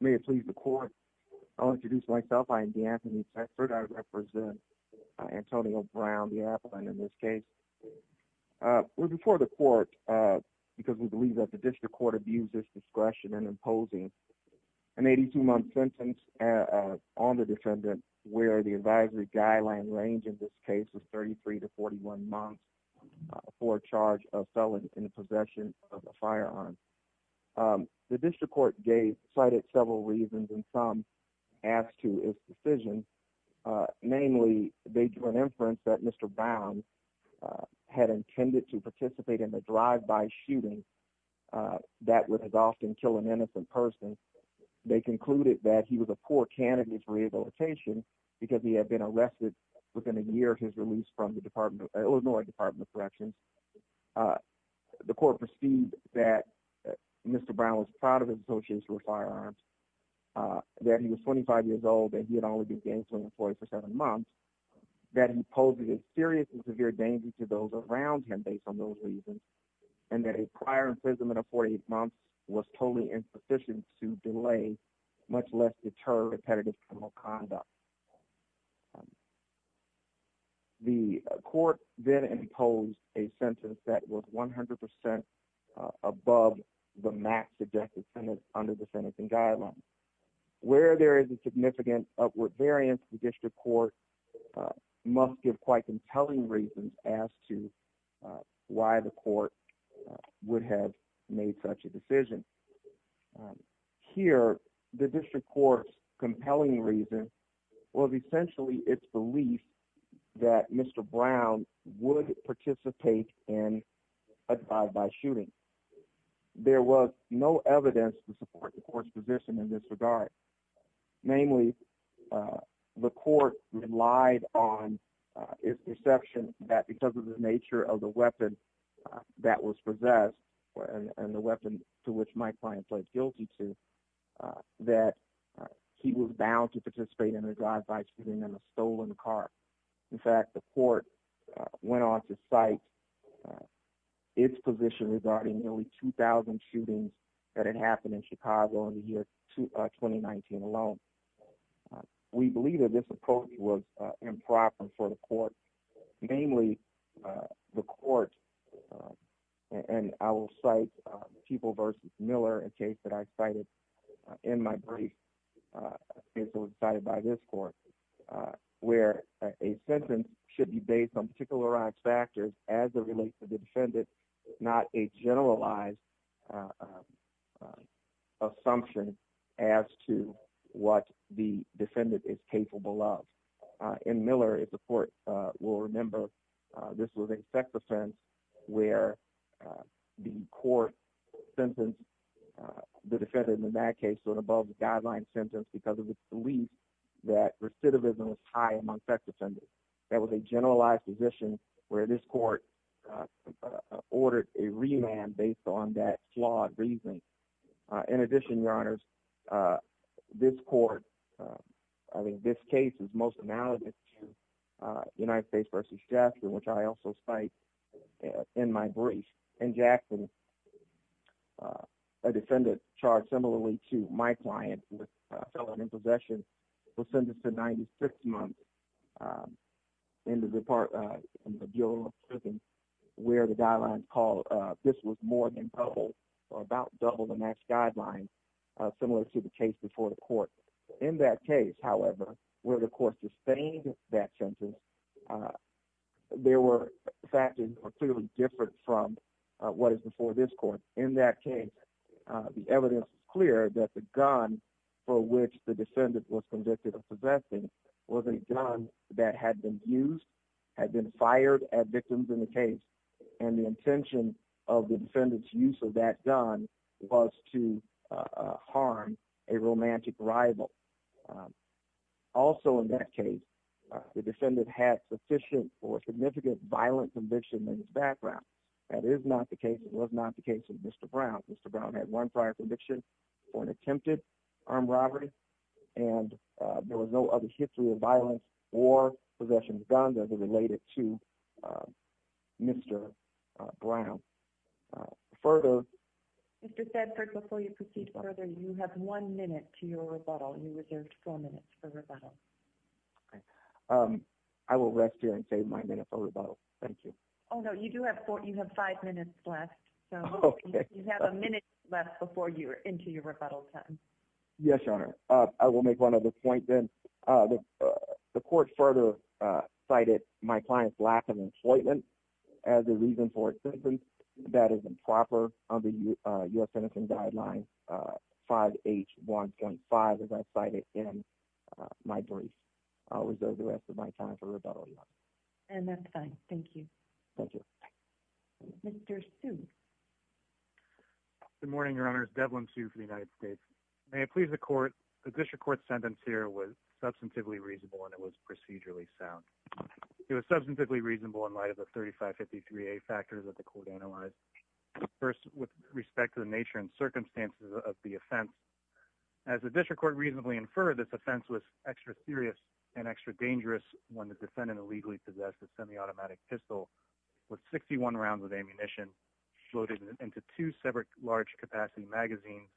May it please the Court, I'll introduce myself. I am DeAnthony Thetford. I represent Antonio Brown, the appellant in this case. We're before the Court because we believe that the District Court has given the District Court the authority to decide whether or not a person is to be charged with possession of a firearm. The District Court cited several reasons and some as to its decision. Namely, they drew an inference that Mr. Brown had intended to participate in a drive-by shooting that would have often killed an innocent person. They concluded that he was a poor candidate for rehabilitation because he had been arrested within a year of his release from the Illinois Department of Corrections. The Court perceived that Mr. Brown was proud of his association with firearms, that he was 25 years old and he had only been gang-slinged for seven months, that he posed a serious and severe danger to those around him based on those reasons, and that a prior imprisonment of 48 months was totally insufficient to delay, much less deter, repetitive criminal conduct. The Court then imposed a sentence that was 100 percent above the max suggested sentence under the Sentencing Guidelines. Where there is a significant upward variance, the District Court must give quite compelling reasons as to why the Court would have made such a decision. Here, the District Court's compelling reason was essentially its belief that Mr. Brown would participate in a drive-by shooting. There was no evidence to support the Court's position in this regard. Namely, the Court relied on its perception that because of the nature of the that he was bound to participate in a drive-by shooting in a stolen car. In fact, the Court went on to cite its position regarding nearly 2,000 shootings that had happened in Chicago in the year 2019 alone. We believe that this approach was improper for the Court. Namely, the Court, and I will cite People v. Miller, a case that I cited in my brief, a case that was cited by this Court, where a sentence should be based on particularized factors as it relates to the defendant, not a generalized assumption as to what the defendant is capable of. In Miller, if the Court will remember, this was a sex offense where the Court sentenced the defendant in that case to an above-the-guideline sentence because of its belief that recidivism was high among sex offenders. That was a generalized position where this Court ordered a remand based on that flawed reasoning. In addition, Your Honors, this Court, I mean, this case is most analogous to United States v. Jackson, which I also cite in my brief. In Jackson, a defendant charged similarly to my client with felon in possession was sentenced to 96 months in the Bureau of Prisons where the guidelines called this was more than double or about double the max guidelines similar to the case before the Court. In that case, however, where the Court sustained that sentence, there were factors clearly different from what is before this Court. In that case, the evidence is clear that the gun for which the defendant was convicted of possessing was a gun that had been used, had been fired at victims in the case, and the intention of the defendant's use of that gun was to harm a romantic rival. Also in that case, the defendant had sufficient or significant violent conviction in his background. That is not the case. It was not the case of Mr. Brown. Mr. Brown had one prior conviction for an attempted armed robbery, and there was no other history of violence or possessions related to Mr. Brown. Mr. Thedford, before you proceed further, you have one minute to your rebuttal. You reserved four minutes for rebuttal. I will rest here and save my minute for rebuttal. Thank you. Oh no, you do have four. You have five minutes left, so you have a minute left before you are into your rebuttal time. Yes, Your Honor. I will make one other point then. The Court further cited my client's lack of employment as a reason for his sentence. That is improper under U.S. Penitentiary Guidelines 5H1.5, as I cited in my brief. I will reserve the rest of my time for rebuttal, Your Honor. And that's fine. Thank you. Thank you. Mr. Sue. Good morning, Your Honors. Devlin Sue for the United States. May it please the Court, the District Court's was substantively reasonable and it was procedurally sound. It was substantively reasonable in light of the 3553A factors that the Court analyzed. First, with respect to the nature and circumstances of the offense, as the District Court reasonably inferred, this offense was extra serious and extra dangerous when the defendant illegally possessed a semi-automatic pistol with 61 rounds of ammunition loaded into two separate large-capacity magazines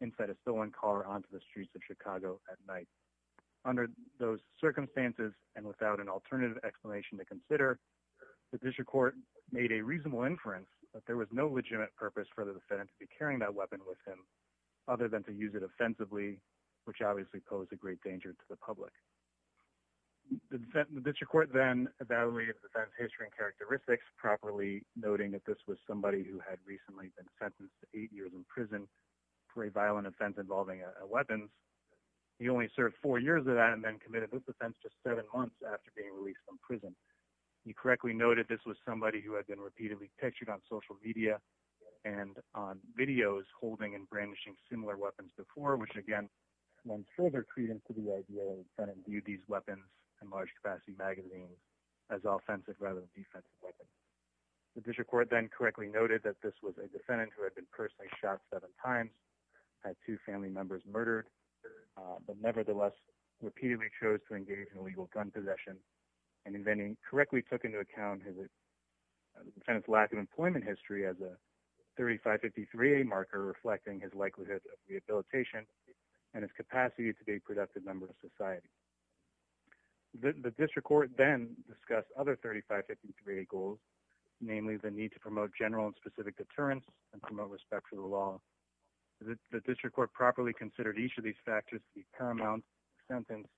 inside a stolen car onto the streets of Chicago at night. Under those circumstances and without an alternative explanation to consider, the District Court made a reasonable inference that there was no legitimate purpose for the defendant to be carrying that weapon with him other than to use it offensively, which obviously posed a great danger to the public. The District Court then evaluated the defendant's history and characteristics properly, noting that this was somebody who had recently been sentenced to eight years in prison for a violent offense involving a weapon. He only served four years of that and then committed this offense just seven months after being released from prison. He correctly noted this was somebody who had been repeatedly pictured on social media and on videos holding and brandishing similar weapons before, which again lends further credence to the idea that the defendant viewed these weapons and correctly noted that this was a defendant who had been personally shot seven times, had two family members murdered, but nevertheless repeatedly chose to engage in illegal gun possession and correctly took into account the defendant's lack of employment history as a 3553A marker reflecting his likelihood of rehabilitation and his capacity to be a productive member of society. The District Court then discussed other 3553A goals, namely the need to promote general and specific deterrence and promote respect for the law. The District Court properly considered each of these factors to be paramount to the sentence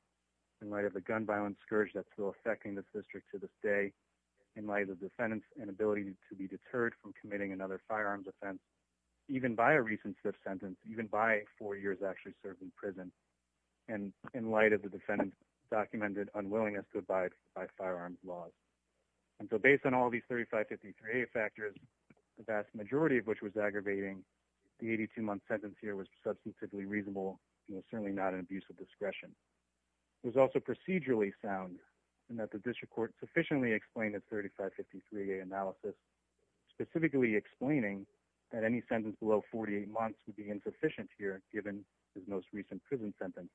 in light of the gun violence scourge that's still affecting this district to this day in light of the defendant's inability to be deterred from committing another firearms offense even by a recent fifth sentence, even by four years actually served in prison, and in light of the defendant's documented unwillingness to abide by firearms laws. And so based on all these 3553A factors, the vast majority of which was aggravating, the 82-month sentence here was substantively reasonable and was certainly not an abuse of discretion. It was also procedurally sound in that the District Court sufficiently explained the 3553A analysis, specifically explaining that any sentence below 48 months would be insufficient here given his most recent prison sentence.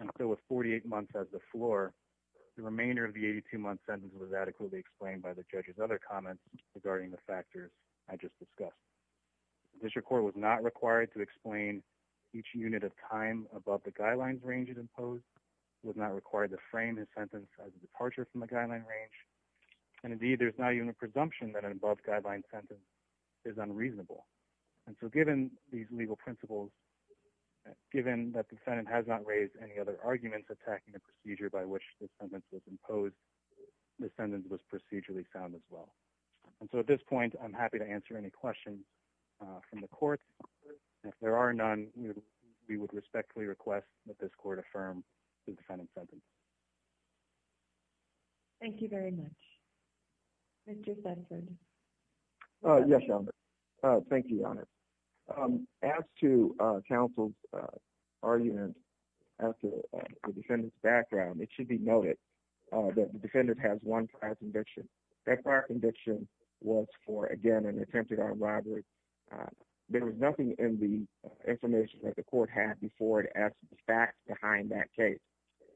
And so with 48 months as the floor, the remainder of the 82-month sentence was adequately explained by the judge's other comments regarding the factors I just discussed. The District Court was not required to explain each unit of time above the guidelines range it imposed, was not required to frame his sentence as a departure from the guideline range, and indeed there's now even a presumption that an given these legal principles, given that the defendant has not raised any other arguments attacking the procedure by which the sentence was imposed, the sentence was procedurally sound as well. And so at this point I'm happy to answer any questions from the court. If there are none, we would respectfully request that this court affirm the defendant's sentence. Thank you very much. Mr. Thetford. Yes, Your Honor. Thank you, Your Honor. As to counsel's argument, as to the defendant's background, it should be noted that the defendant has one prior conviction. That prior conviction was for, again, an attempted armed robbery. There was nothing in the information that the court had before to ask the facts behind that case.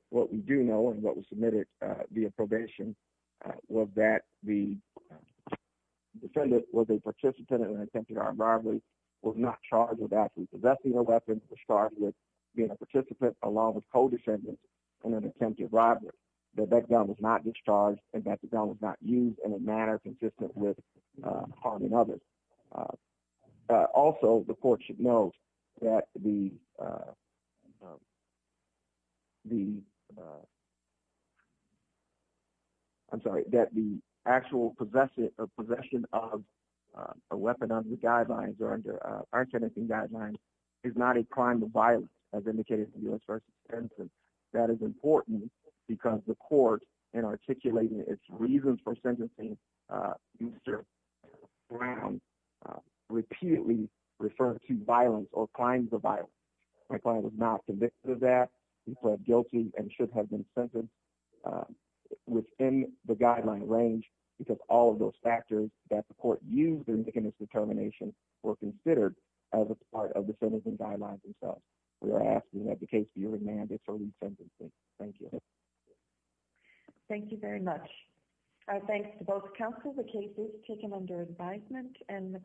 What we do know is and what was submitted via probation was that the defendant was a participant in an attempted armed robbery, was not charged with actually possessing a weapon, was charged with being a participant along with co-defendants in an attempted robbery. The background was not discharged and background was not used in a manner consistent with harming others. Also, the court should note that the actual possession of a weapon under the guidelines or under our sentencing guidelines is not a crime of violence as indicated in the first instance. That is important because the court in articulating its reasons for sentencing Mr. Brown repeatedly referred to violence or a crime of violence. My client was not convicted of that. He pled guilty and should have been sentenced within the guideline range because all of those factors that the court used in making its determination were considered as a part of the sentencing guidelines themselves. We are asking that the case be remanded for re-sentencing. Thank you. Thank you very much. Thanks to both counsel. The case is taken under advisement and the